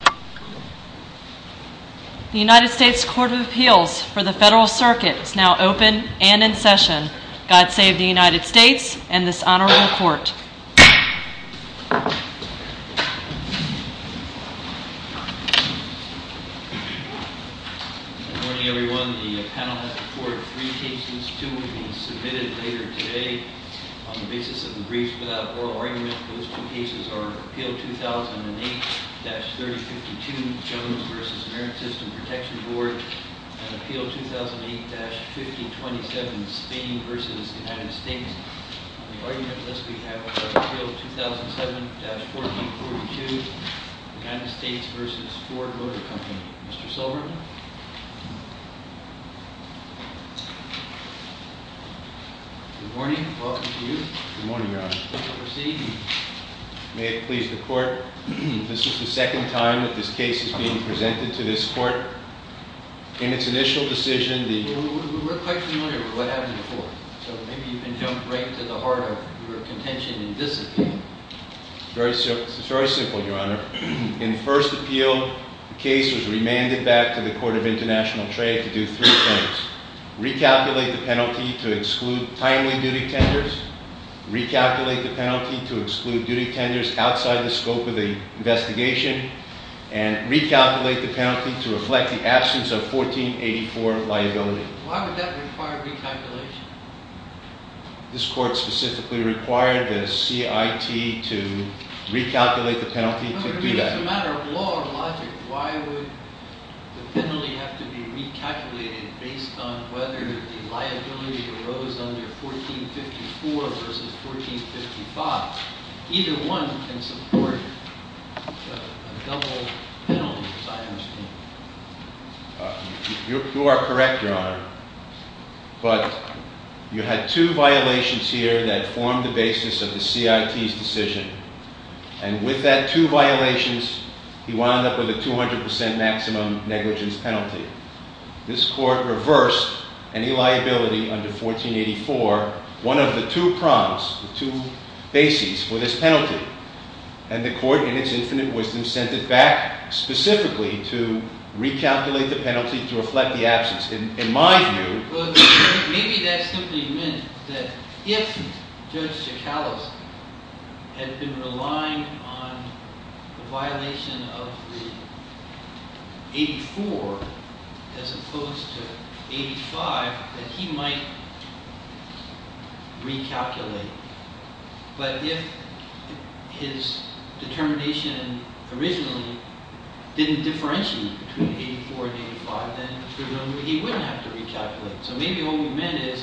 The United States Court of Appeals for the Federal Circuit is now open and in session. God save the United States and this honorable court. Good morning everyone. The panel has reported three cases. Two will be submitted later today on the basis of the briefs without oral argument. Those two cases are Appeal 2008-3052 Jones v. American System Protection Board and Appeal 2008-5027 Spain v. United States. On the argument list we have Appeal 2007-4042 United States v. Ford Motor Company. Mr. Silver? Good morning. Welcome to you. Good morning, Your Honor. Please proceed. May it please the court, this is the second time that this case is being presented to this court. In its initial decision the- We're quite familiar with what happened before, so maybe you can jump right to the heart of your contention in this appeal. It's very simple, Your Honor. In the first appeal, the case was remanded back to the Court of International Trade to do three things. Recalculate the penalty to exclude timely duty tenders, recalculate the penalty to exclude duty tenders outside the scope of the investigation, and recalculate the penalty to reflect the absence of 1484 liability. Why would that require recalculation? This court specifically required the CIT to recalculate the penalty to do that. As a matter of law and logic, why would the penalty have to be recalculated based on whether the liability arose under 1454 v. 1455? Either one can support a double penalty, as I understand it. You are correct, Your Honor. But you had two violations here that formed the basis of the CIT's decision. And with that two violations, he wound up with a 200 percent maximum negligence penalty. This court reversed any liability under 1484, one of the two prompts, the two bases for this penalty. And the court, in its infinite wisdom, sent it back specifically to recalculate the penalty to reflect the absence. In my view… Maybe that simply meant that if Judge Schakalos had been relying on the violation of the 1884 as opposed to 1885, that he might recalculate. But if his determination originally didn't differentiate between 1884 and 1885, then presumably he wouldn't have to recalculate. So maybe what we meant is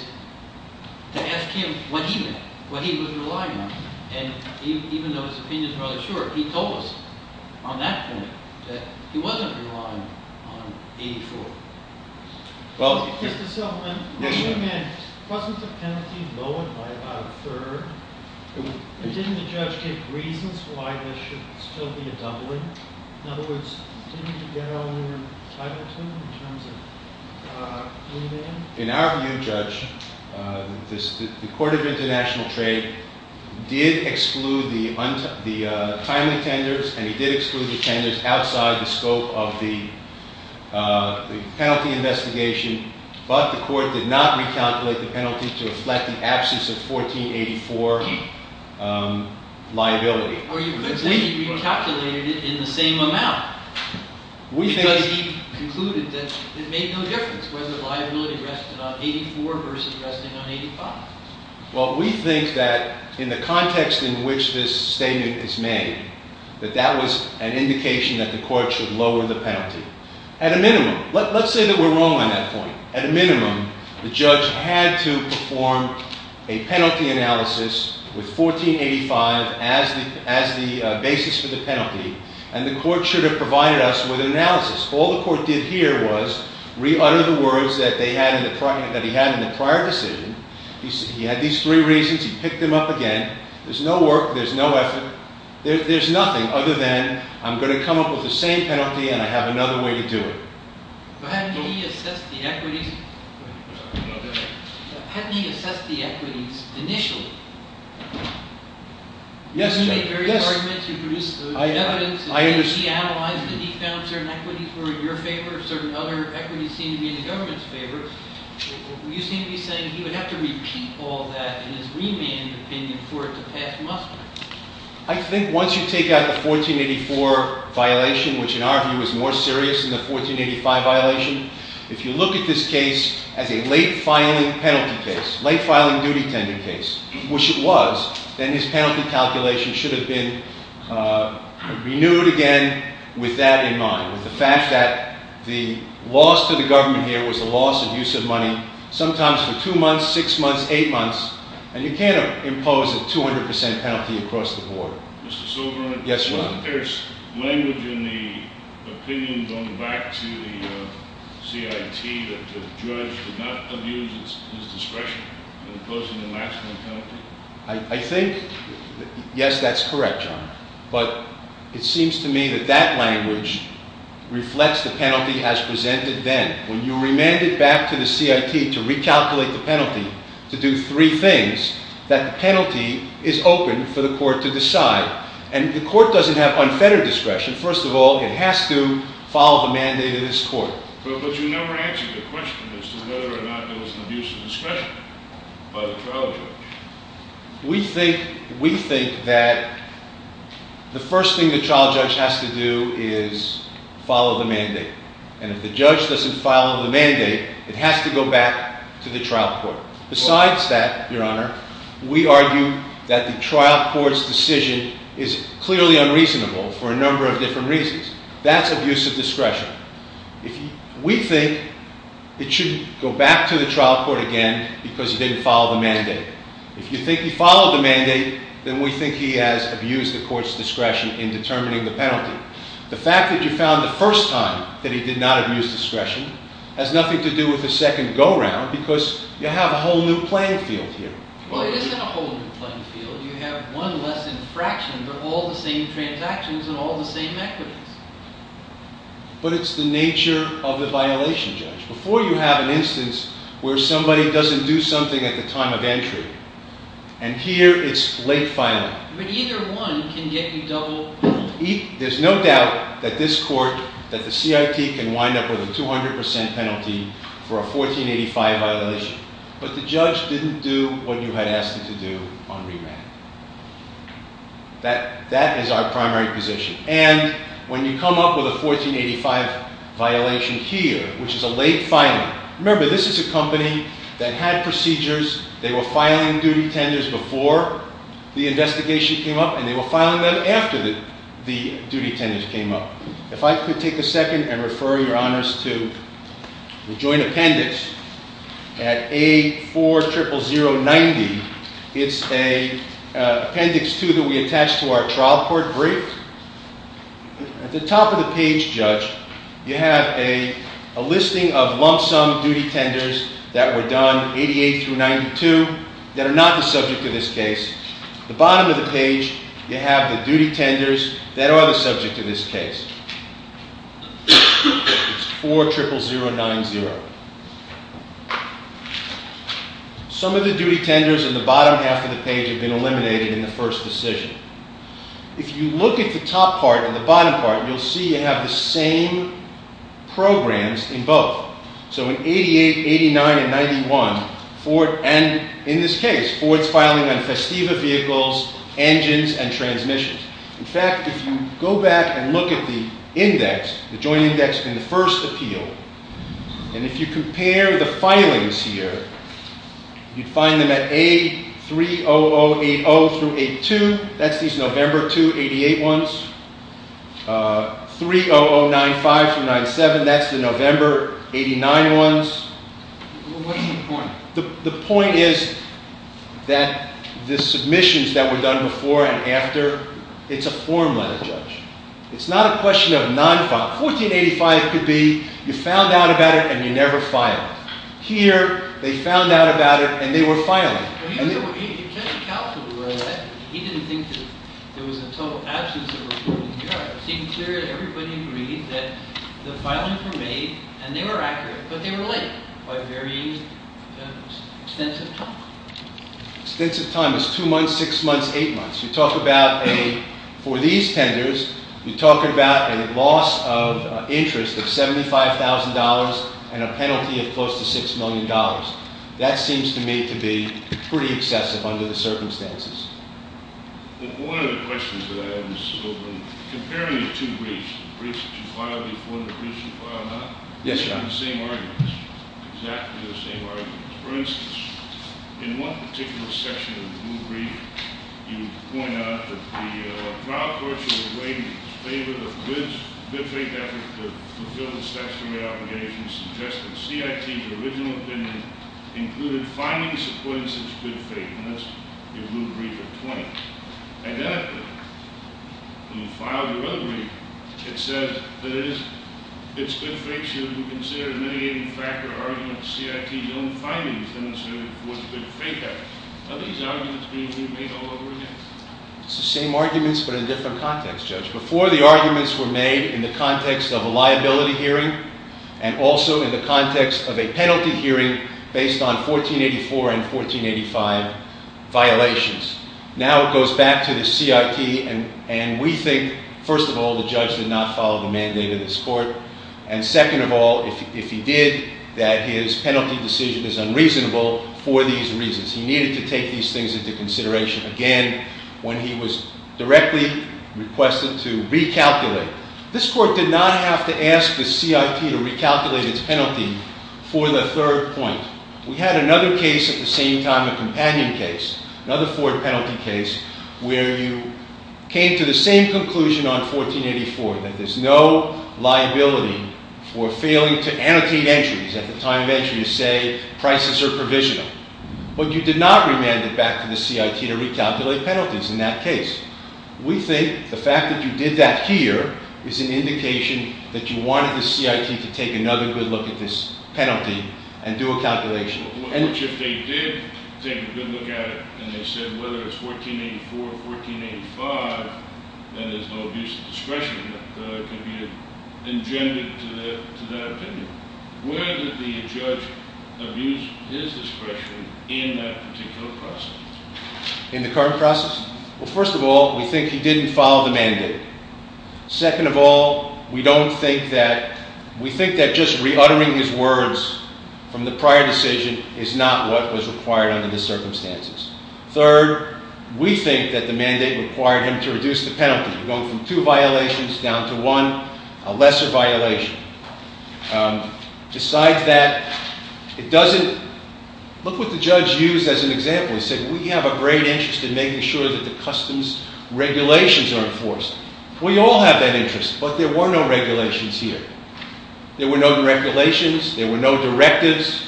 to ask him what he meant, what he was relying on. And even though his opinion is rather short, he told us on that point that he wasn't relying on 1884. Mr. Silverman, what you meant wasn't the penalty lowered by about a third? Didn't the judge give reasons why there should still be a doubling? In other words, didn't he get all the title to him in terms of remand? In our view, Judge, the Court of International Trade did exclude the timely tenders and he did exclude the tenders outside the scope of the penalty investigation. But the court did not recalculate the penalty to reflect the absence of 1484 liability. Or you could say he recalculated it in the same amount. Because he concluded that it made no difference whether liability rested on 1884 versus resting on 1885. Well, we think that in the context in which this statement is made, that that was an indication that the court should lower the penalty. At a minimum, let's say that we're wrong on that point. At a minimum, the judge had to perform a penalty analysis with 1485 as the basis for the penalty. And the court should have provided us with an analysis. All the court did here was re-utter the words that he had in the prior decision. He had these three reasons. He picked them up again. There's no work. There's no effort. There's nothing other than I'm going to come up with the same penalty and I have another way to do it. But hadn't he assessed the equities initially? Yes. He made various arguments. He produced evidence. I understand. He analyzed it. He found certain equities were in your favor. Certain other equities seemed to be in the government's favor. You seem to be saying he would have to repeat all that in his remand opinion for it to pass muster. I think once you take out the 1484 violation, which in our view is more serious than the 1485 violation, if you look at this case as a late-filing penalty case, late-filing duty-tending case, which it was, then his penalty calculation should have been renewed again with that in mind, with the fact that the loss to the government here was a loss of use of money, sometimes for two months, six months, eight months. And you can't impose a 200 percent penalty across the board. Mr. Silverman. Yes, Your Honor. Is there language in the opinion going back to the CIT that the judge did not abuse his discretion in imposing a maximum penalty? I think, yes, that's correct, Your Honor. But it seems to me that that language reflects the penalty as presented then. When you remand it back to the CIT to recalculate the penalty to do three things, And the court doesn't have unfettered discretion. First of all, it has to follow the mandate of this court. But you never answered the question as to whether or not there was an abuse of discretion by the trial judge. We think that the first thing the trial judge has to do is follow the mandate. And if the judge doesn't follow the mandate, it has to go back to the trial court. Besides that, Your Honor, we argue that the trial court's decision is clearly unreasonable for a number of different reasons. That's abuse of discretion. We think it should go back to the trial court again because he didn't follow the mandate. If you think he followed the mandate, then we think he has abused the court's discretion in determining the penalty. The fact that you found the first time that he did not abuse discretion has nothing to do with the second go-round because you have a whole new playing field here. Well, it isn't a whole new playing field. You have one less infraction, but all the same transactions and all the same equities. But it's the nature of the violation, Judge. Before, you have an instance where somebody doesn't do something at the time of entry. And here, it's late filing. But either one can get you double penalty. There's no doubt that this court, that the CIT can wind up with a 200% penalty for a 1485 violation. But the judge didn't do what you had asked him to do on remand. That is our primary position. And when you come up with a 1485 violation here, which is a late filing. Remember, this is a company that had procedures. They were filing duty tenders before the investigation came up. And they were filing them after the duty tenders came up. If I could take a second and refer your honors to the joint appendix at A40090. It's an appendix, too, that we attach to our trial court brief. At the top of the page, Judge, you have a listing of lump sum duty tenders that were done, 88 through 92, that are not the subject of this case. At the bottom of the page, you have the duty tenders that are the subject of this case. It's 40090. Some of the duty tenders in the bottom half of the page have been eliminated in the first decision. If you look at the top part and the bottom part, you'll see you have the same programs in both. So in 88, 89, and 91, and in this case, Ford's filing on Festiva vehicles, engines, and transmissions. In fact, if you go back and look at the index, the joint index in the first appeal, and if you compare the filings here, you'd find them at A30080 through 82, that's these November 2, 88 ones. 30095 through 97, that's the November 89 ones. What's the point? The point is that the submissions that were done before and after, it's a form letter, Judge. It's not a question of non-file. 1485 could be you found out about it and you never filed. Here, they found out about it and they were filing. He didn't think that there was a total absence of reporting here. It seemed clear that everybody agreed that the filings were made and they were accurate, but they were late by a very extensive time. Extensive time is two months, six months, eight months. You talk about a, for these tenders, you talk about a loss of interest of $75,000 and a penalty of close to $6 million. That seems to me to be pretty excessive under the circumstances. One of the questions that I have is comparing the two briefs, the briefs that you filed before and the briefs that you filed after, they're the same arguments, exactly the same arguments. For instance, in one particular section of the brief, you point out that the trial court should weigh in favor of the good faith effort to fulfill the statutory obligations and suggest that CIT's original opinion included finally supporting such good faith. And that's your blue brief of 20. Identically, when you file your other brief, it says that it is, good faith should be considered a mitigating factor argument to CIT's own findings demonstrating it was a good faith effort. Are these arguments being remade all over again? It's the same arguments but in a different context, Judge. Before, the arguments were made in the context of a liability hearing and also in the context of a penalty hearing based on 1484 and 1485 violations. Now it goes back to the CIT and we think, first of all, the judge did not follow the mandate of this court. And second of all, if he did, that his penalty decision is unreasonable for these reasons. He needed to take these things into consideration again when he was directly requested to recalculate. This court did not have to ask the CIT to recalculate its penalty for the third point. We had another case at the same time, a companion case, another Ford penalty case, where you came to the same conclusion on 1484 that there's no liability for failing to annotate entries at the time of entry to say prices are provisional. But you did not remand it back to the CIT to recalculate penalties in that case. We think the fact that you did that here is an indication that you wanted the CIT to take another good look at this penalty and do a calculation. Which if they did take a good look at it and they said whether it's 1484 or 1485, then there's no abuse of discretion that could be engendered to that opinion. Where did the judge abuse his discretion in that particular process? In the current process? Well, first of all, we think he didn't follow the mandate. Second of all, we think that just re-uttering his words from the prior decision is not what was required under the circumstances. Third, we think that the mandate required him to reduce the penalty, going from two violations down to one, a lesser violation. Besides that, look what the judge used as an example. He said, we have a great interest in making sure that the customs regulations are enforced. We all have that interest, but there were no regulations here. There were no regulations. There were no directives.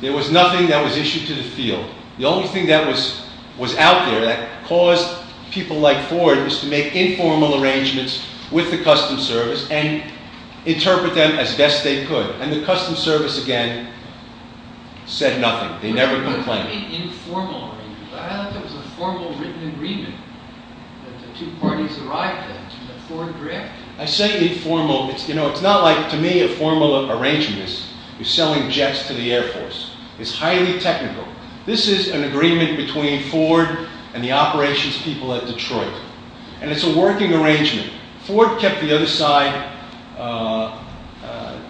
There was nothing that was issued to the field. The only thing that was out there that caused people like Ford was to make informal arrangements with the Customs Service and interpret them as best they could. And the Customs Service, again, said nothing. They never complained. They made informal arrangements. I thought that was a formal written agreement that the two parties arrived at and that Ford directed. I say informal. You know, it's not like, to me, a formal arrangement is selling jets to the Air Force. It's highly technical. This is an agreement between Ford and the operations people at Detroit, and it's a working arrangement. Ford kept the other side.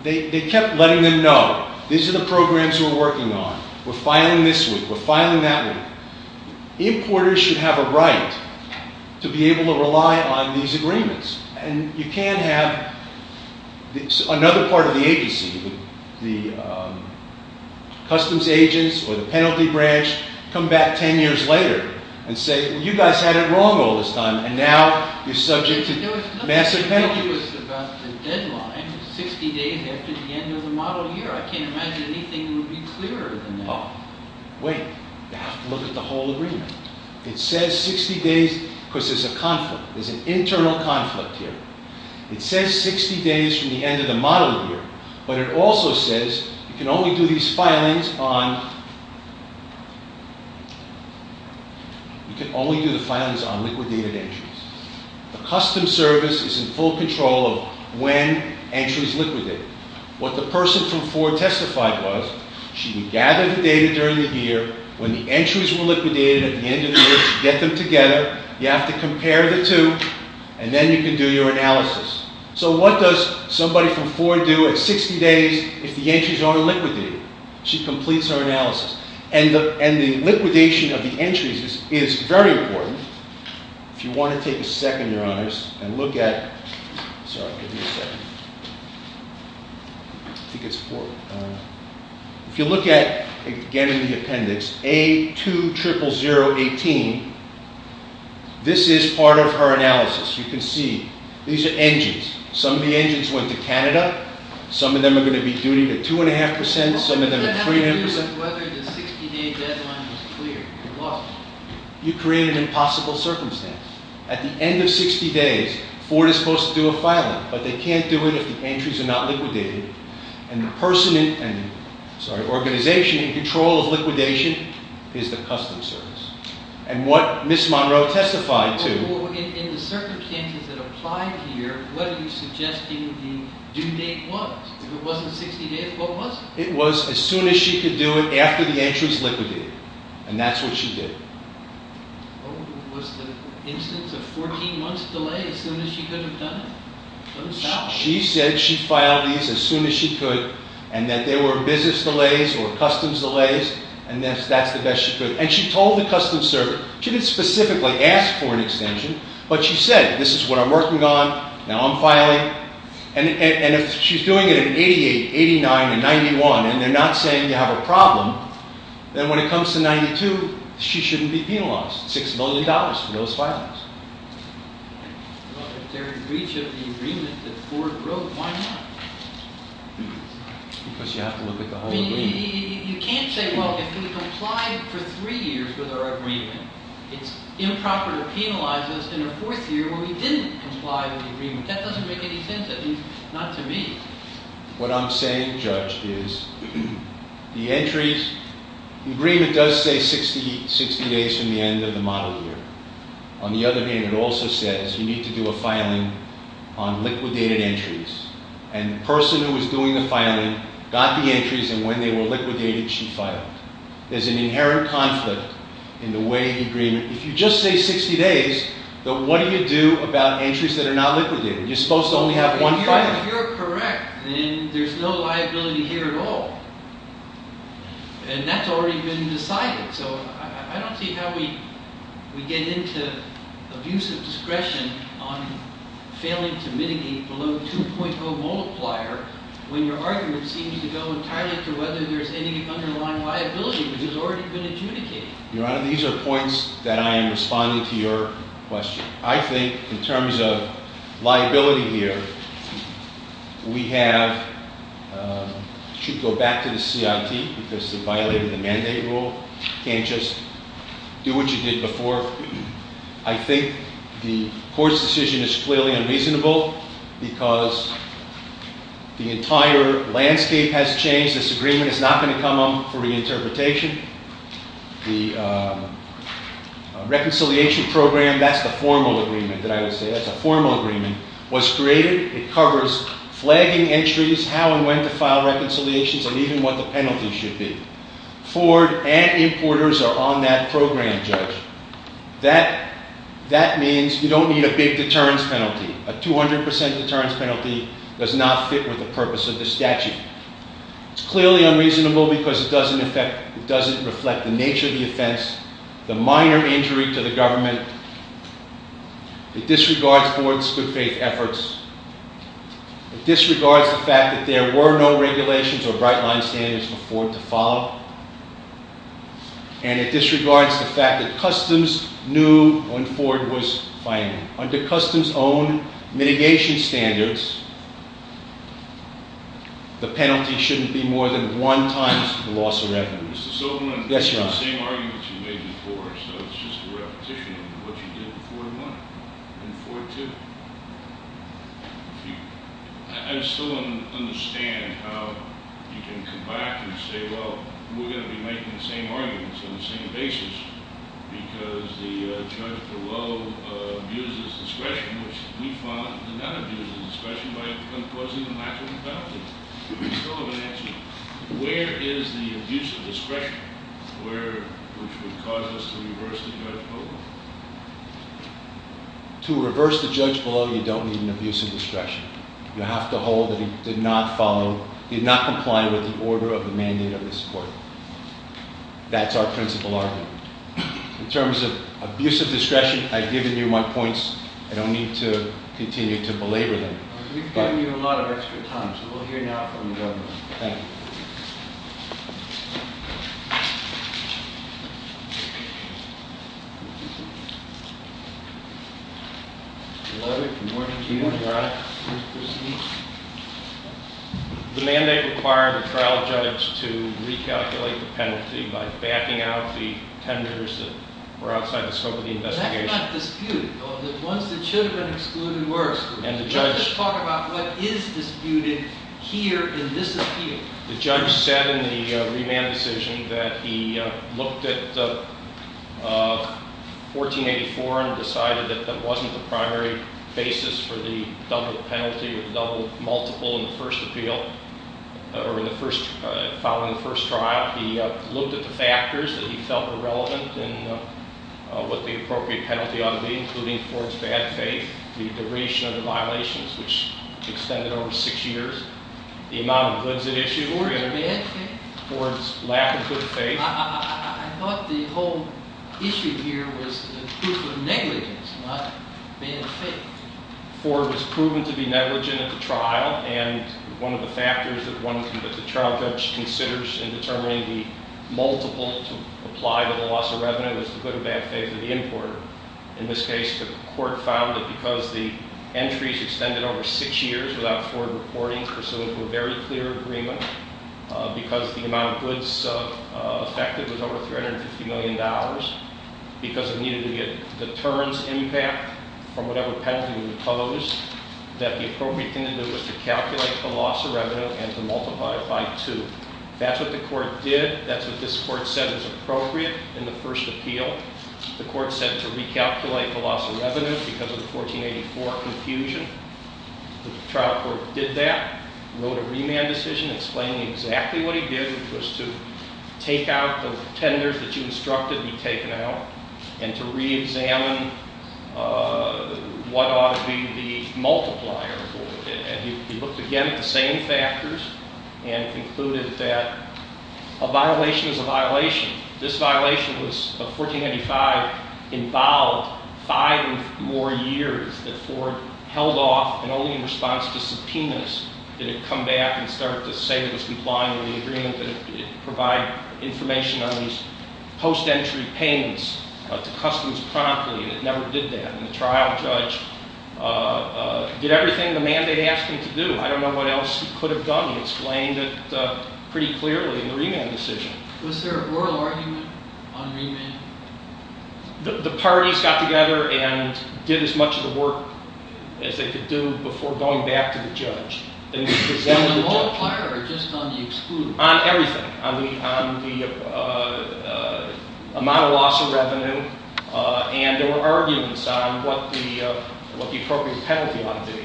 They kept letting them know, these are the programs we're working on. We're filing this one. We're filing that one. Importers should have a right to be able to rely on these agreements. And you can't have another part of the agency, the customs agents or the penalty branch, come back 10 years later and say, well, you guys had it wrong all this time, and now you're subject to massive penalties. The deadline is 60 days after the end of the model year. I can't imagine anything would be clearer than that. Wait. You have to look at the whole agreement. It says 60 days, because there's a conflict. There's an internal conflict here. It says 60 days from the end of the model year, but it also says you can only do these filings on liquidated entries. The customs service is in full control of when entry is liquidated. What the person from Ford testified was, she would gather the data during the year. When the entries were liquidated at the end of the year, she'd get them together. You have to compare the two, and then you can do your analysis. So what does somebody from Ford do at 60 days if the entries aren't liquidated? She completes her analysis. And the liquidation of the entries is very important. If you want to take a second, Your Honors, and look at— Sorry, give me a second. If you look at, again in the appendix, A200018, this is part of her analysis. You can see these are engines. Some of the engines went to Canada. Some of them are going to be due to 2.5 percent. Some of them are 3.5 percent. What does that have to do with whether the 60-day deadline was clear? It was. You created an impossible circumstance. At the end of 60 days, Ford is supposed to do a filing. But they can't do it if the entries are not liquidated. And the person in—sorry, organization in control of liquidation is the Customs Service. And what Ms. Monroe testified to— In the circumstances that apply here, what are you suggesting the due date was? If it wasn't 60 days, what was it? It was as soon as she could do it after the entries liquidated. And that's what she did. Was the instance of 14 months delay as soon as she could have done it? She said she filed these as soon as she could, and that there were business delays or customs delays, and that's the best she could. And she told the Customs Service. She didn't specifically ask for an extension, but she said, this is what I'm working on, now I'm filing. And if she's doing it in 88, 89, and 91, and they're not saying you have a problem, then when it comes to 92, she shouldn't be penalized, $6 million for those filings. Well, if they're in breach of the agreement that Ford wrote, why not? Because you have to look at the whole agreement. You can't say, well, if we complied for three years with our agreement, it's improper to penalize us in a fourth year when we didn't comply with the agreement. That doesn't make any sense. I mean, not to me. What I'm saying, Judge, is the entries, the agreement does say 60 days from the end of the model year. On the other hand, it also says you need to do a filing on liquidated entries. And the person who was doing the filing got the entries, and when they were liquidated, she filed. There's an inherent conflict in the way the agreement, if you just say 60 days, what do you do about entries that are not liquidated? You're supposed to only have one filing. Your Honor, if you're correct, then there's no liability here at all. And that's already been decided. So I don't see how we get into abusive discretion on failing to mitigate below 2.0 multiplier when your argument seems to go entirely to whether there's any underlying liability, which has already been adjudicated. Your Honor, these are points that I am responding to your question. I think in terms of liability here, we should go back to the CIT because they violated the mandate rule. You can't just do what you did before. I think the court's decision is clearly unreasonable because the entire landscape has changed. This agreement is not going to come up for reinterpretation. The reconciliation program, that's the formal agreement that I would say, that's a formal agreement, was created. It covers flagging entries, how and when to file reconciliations, and even what the penalties should be. Ford and importers are on that program, Judge. That means you don't need a big deterrence penalty. A 200% deterrence penalty does not fit with the purpose of the statute. It's clearly unreasonable because it doesn't reflect the nature of the offense, the minor injury to the government. It disregards Ford's good-faith efforts. It disregards the fact that there were no regulations or bright-line standards for Ford to follow. And it disregards the fact that customs knew when Ford was filing. Under customs' own mitigation standards, the penalty shouldn't be more than one times the loss of revenue. Mr. Silverman, it's the same arguments you made before, so it's just a repetition of what you did in Ford 1 and Ford 2. I still don't understand how you can come back and say, well, we're going to be making the same arguments on the same basis because the judge below abuses discretion, which we found did not abuse his discretion by causing a maximum penalty. Mr. Silverman, where is the abuse of discretion, which would cause us to reverse the judge below? To reverse the judge below, you don't need an abuse of discretion. You have to hold that he did not comply with the order of the mandate of this court. That's our principle argument. In terms of abuse of discretion, I've given you my points. I don't need to continue to belabor them. We've given you a lot of extra time, so we'll hear now from the government. Thank you. Good morning. Good morning, Your Honor. Please proceed. The mandate required the trial judge to recalculate the penalty by backing out the tenders that were outside the scope of the investigation. That's not disputed. The ones that should have been excluded were excluded. Can you just talk about what is disputed here in this appeal? The judge said in the remand decision that he looked at 1484 and decided that that wasn't the primary basis for the double penalty or the double multiple in the first appeal, or following the first trial. He looked at the factors that he felt were relevant in what the appropriate penalty ought to be, including Ford's bad faith, the duration of the violations, which extended over six years, the amount of goods at issue, Ford's lack of good faith. I thought the whole issue here was the proof of negligence, not bad faith. Ford was proven to be negligent at the trial, and one of the factors that the trial judge considers in determining the multiple to apply to the loss of revenue is the good or bad faith of the importer. In this case, the court found that because the entries extended over six years without Ford reporting, pursuant to a very clear agreement, because the amount of goods affected was over $350 million, because it needed to be a deterrence impact from whatever penalty was imposed, that the appropriate thing to do was to calculate the loss of revenue and to multiply it by two. That's what the court did. That's what this court said was appropriate in the first appeal. The court said to recalculate the loss of revenue because of the 1484 confusion. The trial court did that, wrote a remand decision explaining exactly what he did, which was to take out the tenders that you instructed be taken out and to reexamine what ought to be the multiplier for it. And he looked again at the same factors and concluded that a violation is a violation. This violation was 1485 involved five more years that Ford held off and only in response to subpoenas did it come back and start to say it was complying with the agreement, that it provided information on these post-entry payments to customs promptly, and it never did that. And the trial judge did everything the mandate asked him to do. I don't know what else he could have done. He explained it pretty clearly in the remand decision. Was there a oral argument on remand? The parties got together and did as much of the work as they could do before going back to the judge. On the multiplier or just on the exclusion? On everything. On the amount of loss of revenue, and there were arguments on what the appropriate penalty ought to be.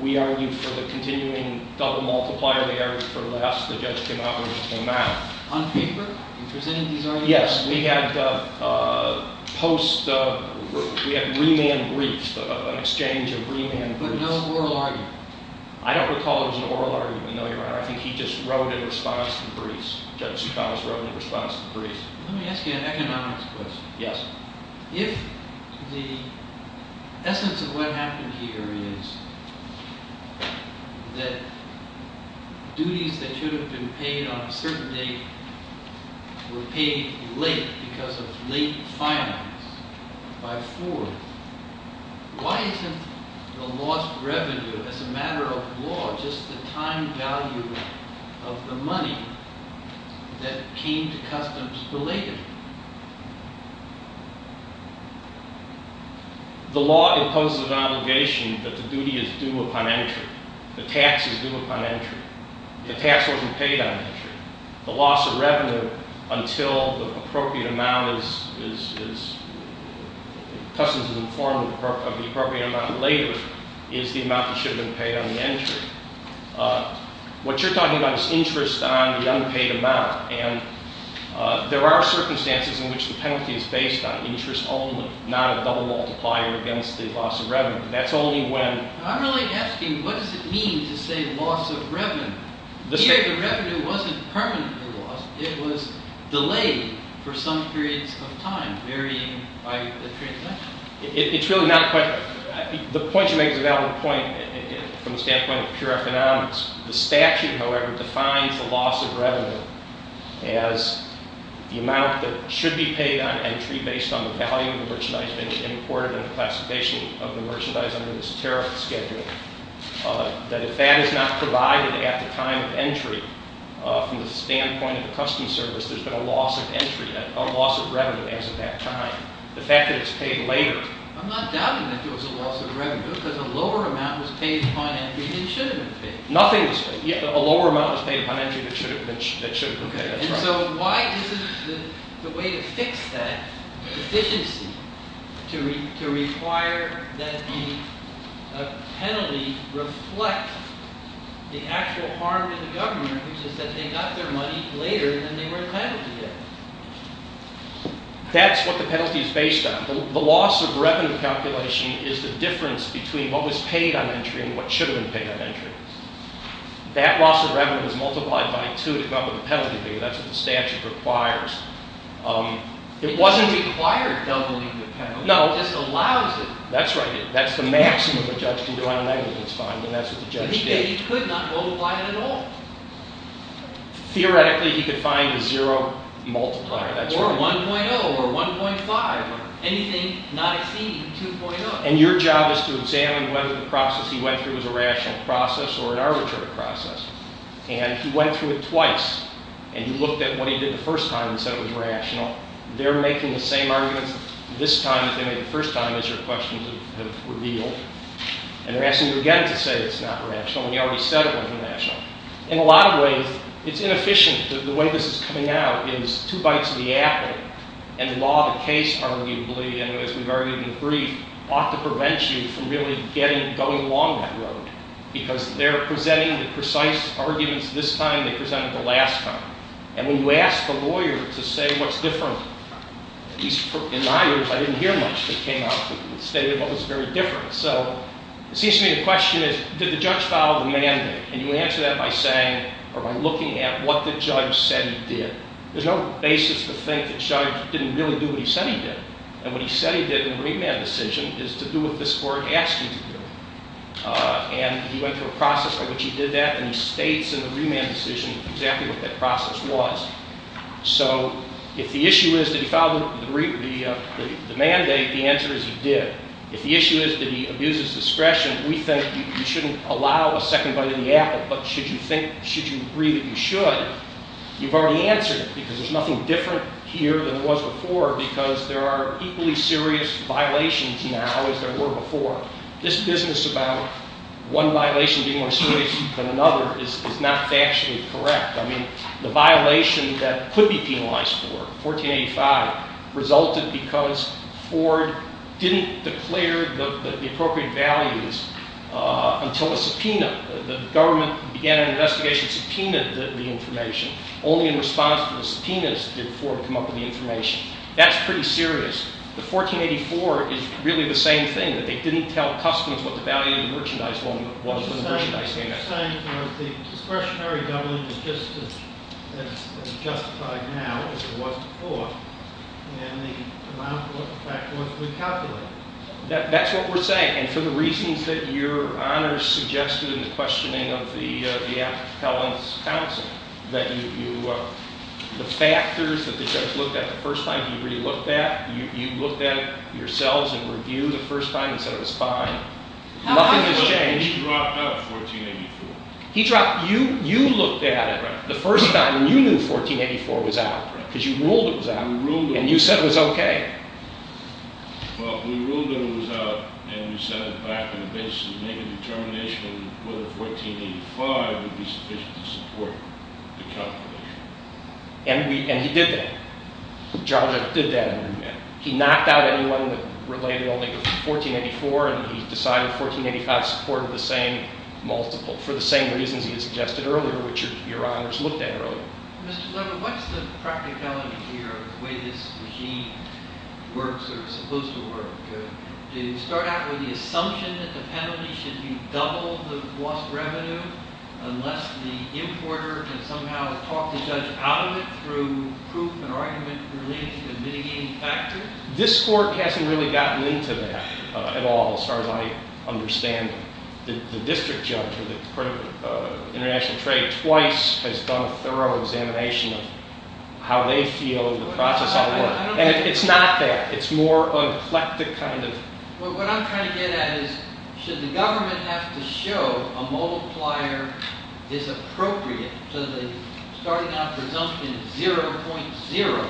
We argued for the continuing double multiplier. They argued for less. The judge came out when it came out. On paper? In presenting these arguments? Yes. We had post-we had remand briefs, an exchange of remand briefs. But no oral argument? I don't recall there was an oral argument. I think he just wrote in response to the briefs. Judge Tsoukalos wrote in response to the briefs. Let me ask you an economics question. Yes. If the essence of what happened here is that duties that should have been paid on a certain date were paid late because of late finance by Ford, why isn't the lost revenue as a matter of law just the time value of the money that came to customs belated? The law imposes an obligation that the duty is due upon entry. The tax is due upon entry. The tax wasn't paid on entry. The loss of revenue until the appropriate amount is customs is informed of the appropriate amount later is the amount that should have been paid on the entry. What you're talking about is interest on the unpaid amount. And there are circumstances in which the penalty is based on interest only, not a double multiplier against the loss of revenue. That's only when. I'm really asking, what does it mean to say loss of revenue? Here, the revenue wasn't permanently lost. It was delayed for some periods of time, varying by the transaction. It's really not quite. The point you make is a valid point from the standpoint of pure economics. The statute, however, defines the loss of revenue as the amount that should be paid on entry based on the value of the merchandise being imported and the classification of the merchandise under this tariff schedule. That if that is not provided at the time of entry from the standpoint of the customs service, there's been a loss of entry, a loss of revenue as of that time. The fact that it's paid later. I'm not doubting that there was a loss of revenue because a lower amount was paid upon entry than it should have been paid. Nothing was paid. A lower amount was paid upon entry than it should have been paid. And so why isn't the way to fix that deficiency to require that the penalty reflect the actual harm to the government, which is that they got their money later than they were penaltyed? That's what the penalty is based on. The loss of revenue calculation is the difference between what was paid on entry and what should have been paid on entry. That loss of revenue is multiplied by two to come up with a penalty figure. That's what the statute requires. It wasn't required doubling the penalty. No. It just allows it. That's right. That's the maximum a judge can do on a negligence fine. And that's what the judge did. He could not multiply it at all. Theoretically, he could find a zero multiplier. Or 1.0 or 1.5 or anything not exceeding 2.0. And your job is to examine whether the process he went through was a rational process or an arbitrary process. And he went through it twice. And he looked at what he did the first time and said it was rational. They're making the same arguments this time that they made the first time, as your questions have revealed. And they're asking you again to say it's not rational when you already said it wasn't rational. In a lot of ways, it's inefficient. The way this is coming out is two bites of the apple. And the law of the case, arguably, and as we've argued in the brief, ought to prevent you from really going along that road. Because they're presenting the precise arguments this time. They presented the last time. And when you ask a lawyer to say what's different, at least in my years, I didn't hear much that came out that stated what was very different. So it seems to me the question is did the judge follow the mandate? And you answer that by saying or by looking at what the judge said he did. There's no basis to think the judge didn't really do what he said he did. And what he said he did in the remand decision is to do what this court asked him to do. And he went through a process by which he did that. And he states in the remand decision exactly what that process was. So if the issue is did he follow the mandate, the answer is he did. If the issue is did he abuse his discretion, we think you shouldn't allow a second bite of the apple. But should you agree that you should, you've already answered it. Because there's nothing different here than there was before because there are equally serious violations now as there were before. This business about one violation being more serious than another is not factually correct. I mean the violation that could be penalized for, 1485, resulted because Ford didn't declare the appropriate values until a subpoena. The government began an investigation, subpoenaed the information. Only in response to the subpoenas did Ford come up with the information. That's pretty serious. The 1484 is really the same thing, that they didn't tell customers what the value of the merchandise was when the merchandise came out. So you're saying that the discretionary government is justified now, as it was before, and the amount of what the fact was recalculated. That's what we're saying. And for the reasons that Your Honor suggested in the questioning of the appellant's counsel, that the factors that the judge looked at the first time, he really looked at. You looked at it yourselves in review the first time and said it was fine. Nothing has changed. He dropped out of 1484. You looked at it the first time and you knew 1484 was out. Because you ruled it was out. And you said it was okay. Well, we ruled that it was out and we sat it back and basically made a determination whether 1485 would be sufficient to support the calculation. And he did that. He knocked out anyone that related only to 1484 and he decided 1485 supported the same multiple, for the same reasons he suggested earlier, which Your Honors looked at earlier. Mr. Levin, what's the practicality here of the way this regime works, or is supposed to work? Do you start out with the assumption that the penalty should be double the lost revenue, unless the importer can somehow talk the judge out of it through proof and argument related to the mitigating factors? This court hasn't really gotten into that at all, as far as I understand it. The district judge, or the court of international trade, twice has done a thorough examination of how they feel of the process at work. And it's not that. It's more an eclectic kind of... What I'm trying to get at is, should the government have to show a multiplier is appropriate to the starting out presumption 0.0,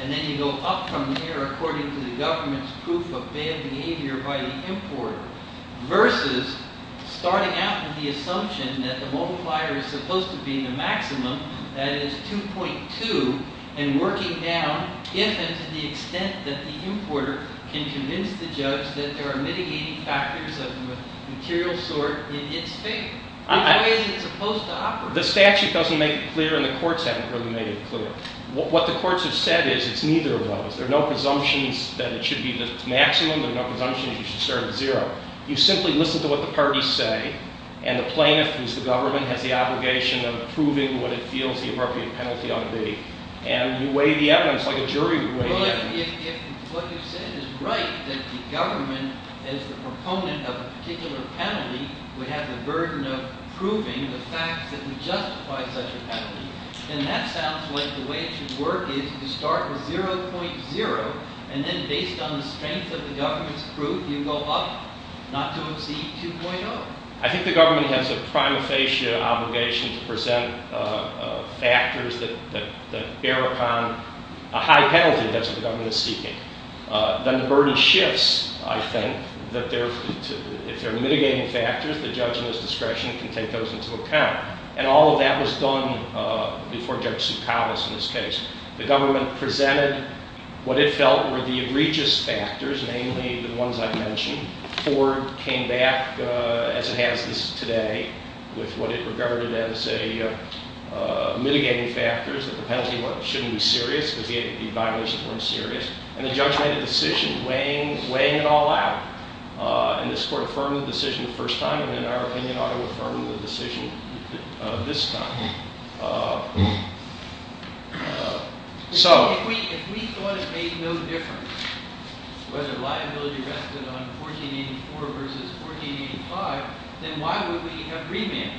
and then you go up from there according to the government's proof of bad behavior by the importer, versus starting out with the assumption that the multiplier is supposed to be the maximum, that is, 2.2, and working down, if and to the extent that the importer can convince the judge that there are mitigating factors of material sort in its favor. Which way is it supposed to operate? The statute doesn't make it clear, and the courts haven't really made it clear. What the courts have said is, it's neither of those. There are no presumptions that it should be the maximum, there are no presumptions you should start at 0. You simply listen to what the parties say, and the plaintiff, who's the government, has the obligation of proving what it feels the appropriate penalty ought to be. And you weigh the evidence like a jury would weigh the evidence. Well, if what you said is right, that the government, as the proponent of a particular penalty, would have the burden of proving the fact that we justify such a penalty, then that sounds like the way it should work is to start with 0.0, and then based on the strength of the government's proof, you go up, not to exceed 2.0. I think the government has a prima facie obligation to present factors that bear upon a high penalty, that's what the government is seeking. Then the burden shifts, I think, that if there are mitigating factors, the judge in his discretion can take those into account. And all of that was done before Judge Tsoukalos in this case. The government presented what it felt were the egregious factors, mainly the ones I mentioned. Ford came back, as it has today, with what it regarded as mitigating factors, that the penalty shouldn't be serious because the violations weren't serious. And the judge made a decision weighing it all out. And this court affirmed the decision the first time, and in our opinion ought to affirm the decision this time. If we thought it made no difference whether liability rested on 1484 versus 1485, then why would we have remanded?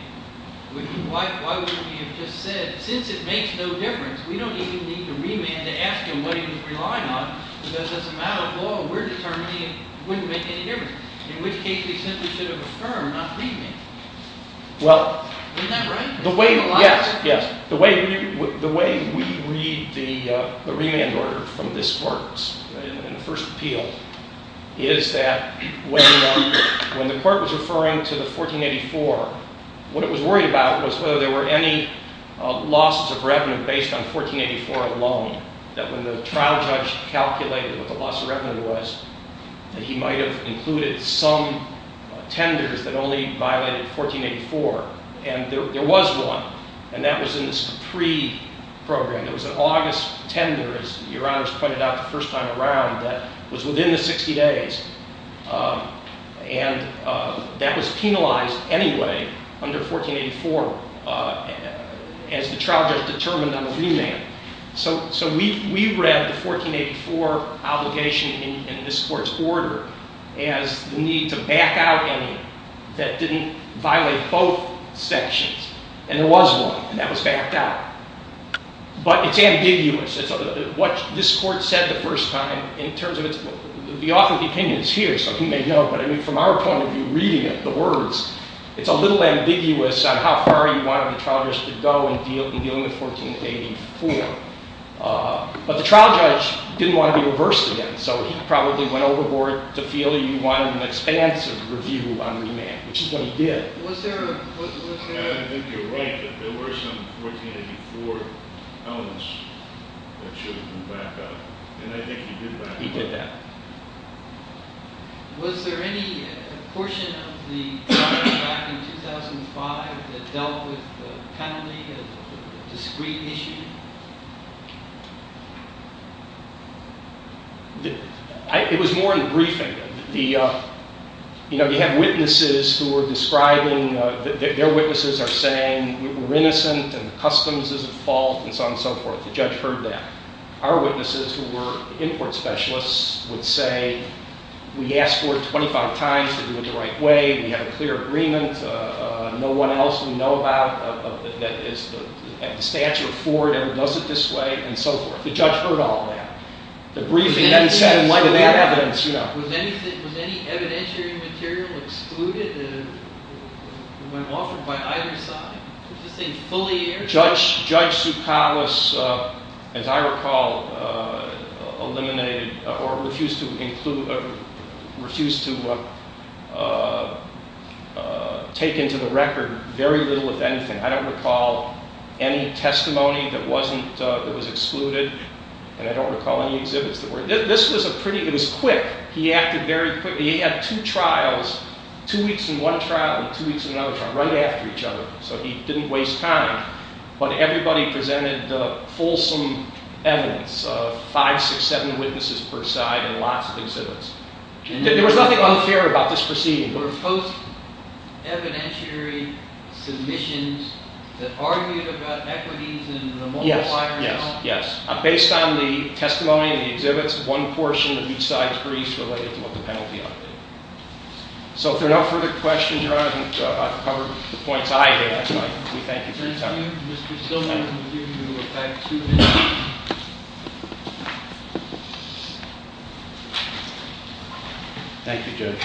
Why wouldn't we have just said, since it makes no difference, we don't even need to remand to ask him what he was relying on, because as a matter of law, we're determining it wouldn't make any difference, in which case we simply should have affirmed, not remanded. Isn't that right? Yes, yes. The way we read the remand order from this court in the first appeal is that when the court was referring to the 1484, what it was worried about was whether there were any losses of revenue based on 1484 alone, that when the trial judge calculated what the loss of revenue was, that he might have included some tenders that only violated 1484. And there was one, and that was in the SCAPRE program. There was an August tender, as Your Honors pointed out the first time around, that was within the 60 days. And that was penalized anyway under 1484 as the trial judge determined on the remand. So we read the 1484 obligation in this court's order as the need to back out any that didn't violate both sections. And there was one, and that was backed out. But it's ambiguous. What this court said the first time, in terms of its... The author of the opinion is here, so he may know, but from our point of view, reading it, the words, it's a little ambiguous on how far you wanted the trial judge to go in dealing with 1484. But the trial judge didn't want to be reversed again, so he probably went overboard to feel you wanted an expansive review on remand, which is what he did. I think you're right that there were some 1484 elements that should have been backed out. And I think he did that. He did that. Was there any portion of the trial back in 2005 that dealt with the penalty of discreet issuing? It was more in the briefing. You know, you had witnesses who were describing... Their witnesses are saying we're innocent and the customs is at fault and so on and so forth. The judge heard that. Our witnesses, who were import specialists, would say, we asked for it 25 times to do it the right way. We have a clear agreement. No one else we know about that is at the stature of Ford ever does it this way and so forth. The judge heard all that. The briefing then said, in light of that evidence... Was any evidentiary material excluded that went off by either side? Was this thing fully aired? Judge Tsoukalos, as I recall, eliminated or refused to include... refused to take into the record very little, if anything. I don't recall any testimony that was excluded, and I don't recall any exhibits that were. This was a pretty... It was quick. He acted very quickly. He had two trials, two weeks in one trial and two weeks in another trial, right after each other, so he didn't waste time. But everybody presented fulsome evidence, five, six, seven witnesses per side in lots of exhibits. There was nothing unfair about this proceeding. Were there post-evidentiary submissions that argued about equities and the multiplier? Yes. Based on the testimony and the exhibits, one portion of each side's briefs related to what the penalty ought to be. So if there are no further questions, Your Honor, I've covered the points I had. We thank you for your time. Thank you, Judge.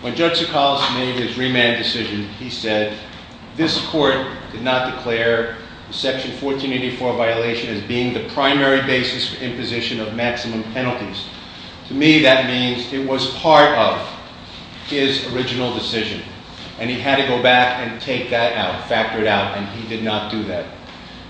When Judge Tsoukalos made his remand decision, he said, this court did not declare Section 1484 violation as being the primary basis for imposition of maximum penalties. To me, that means it was part of his original decision, and he had to go back and take that out, factor it out, and he did not do that.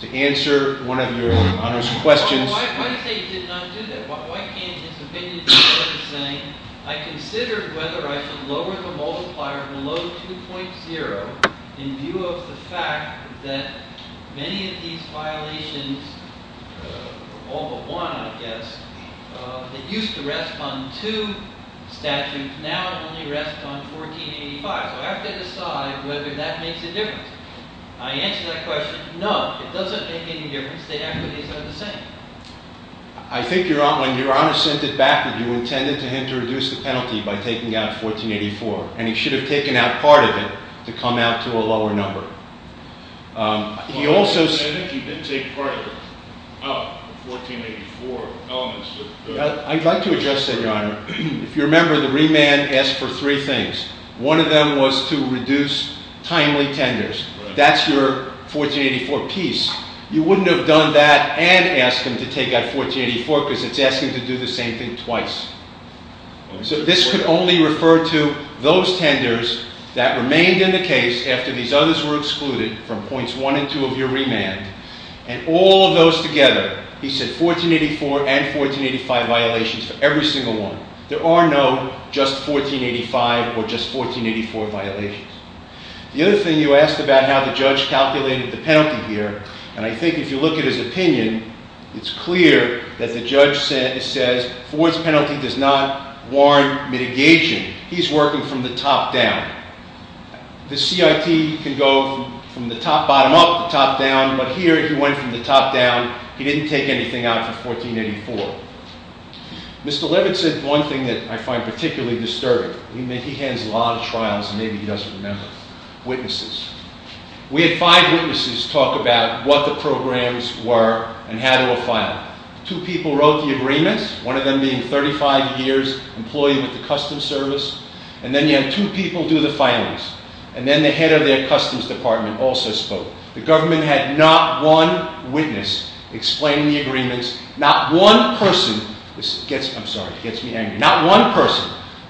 To answer one of Your Honor's questions... Well, why do you say he did not do that? Why can't his opinion be heard as saying, I considered whether I should lower the multiplier below 2.0 in view of the fact that many of these violations, all but one, I guess, that used to rest on two statutes, now only rest on 1485. So I have to decide whether that makes a difference. I answer that question, no, it doesn't make any difference. The equities are the same. I think when Your Honor sent it back, that you intended for him to reduce the penalty by taking out 1484, and he should have taken out part of it to come out to a lower number. I think he did take part of it out of the 1484 elements. I'd like to address that, Your Honor. If you remember, the remand asked for three things. One of them was to reduce timely tenders. That's your 1484 piece. You wouldn't have done that and asked him to take out 1484 because it's asking to do the same thing twice. So this could only refer to those tenders that remained in the case after these others were excluded from points 1 and 2 of your remand, and all of those together, he said 1484 and 1485 violations for every single one. There are no just 1485 or just 1484 violations. The other thing you asked about how the judge calculated the penalty here, and I think if you look at his opinion, it's clear that the judge says Ford's penalty does not warrant mitigation. He's working from the top down. The CIT can go from the top bottom up to the top down, but here he went from the top down. He didn't take anything out for 1484. Mr. Levitt said one thing that I find particularly disturbing. He has a lot of trials, and maybe he doesn't remember. Witnesses. We had five witnesses talk about what the programs were and how to a file. Two people wrote the agreements, one of them being 35 years employed with the Customs Service, and then you had two people do the filings, and then the head of their Customs Department also spoke. The government had not one witness explain the agreements. Not one person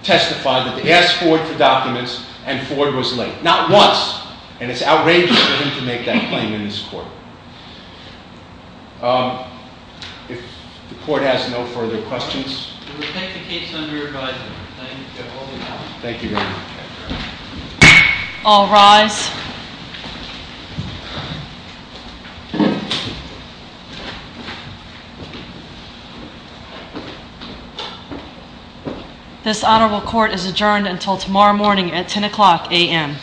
testified that they asked Ford for documents, and Ford was late. Not once. And it's outrageous for him to make that claim in this court. If the court has no further questions. We'll take the case under advisement. Thank you. Thank you very much. All rise. This honorable court is adjourned until tomorrow morning at 10 o'clock a.m.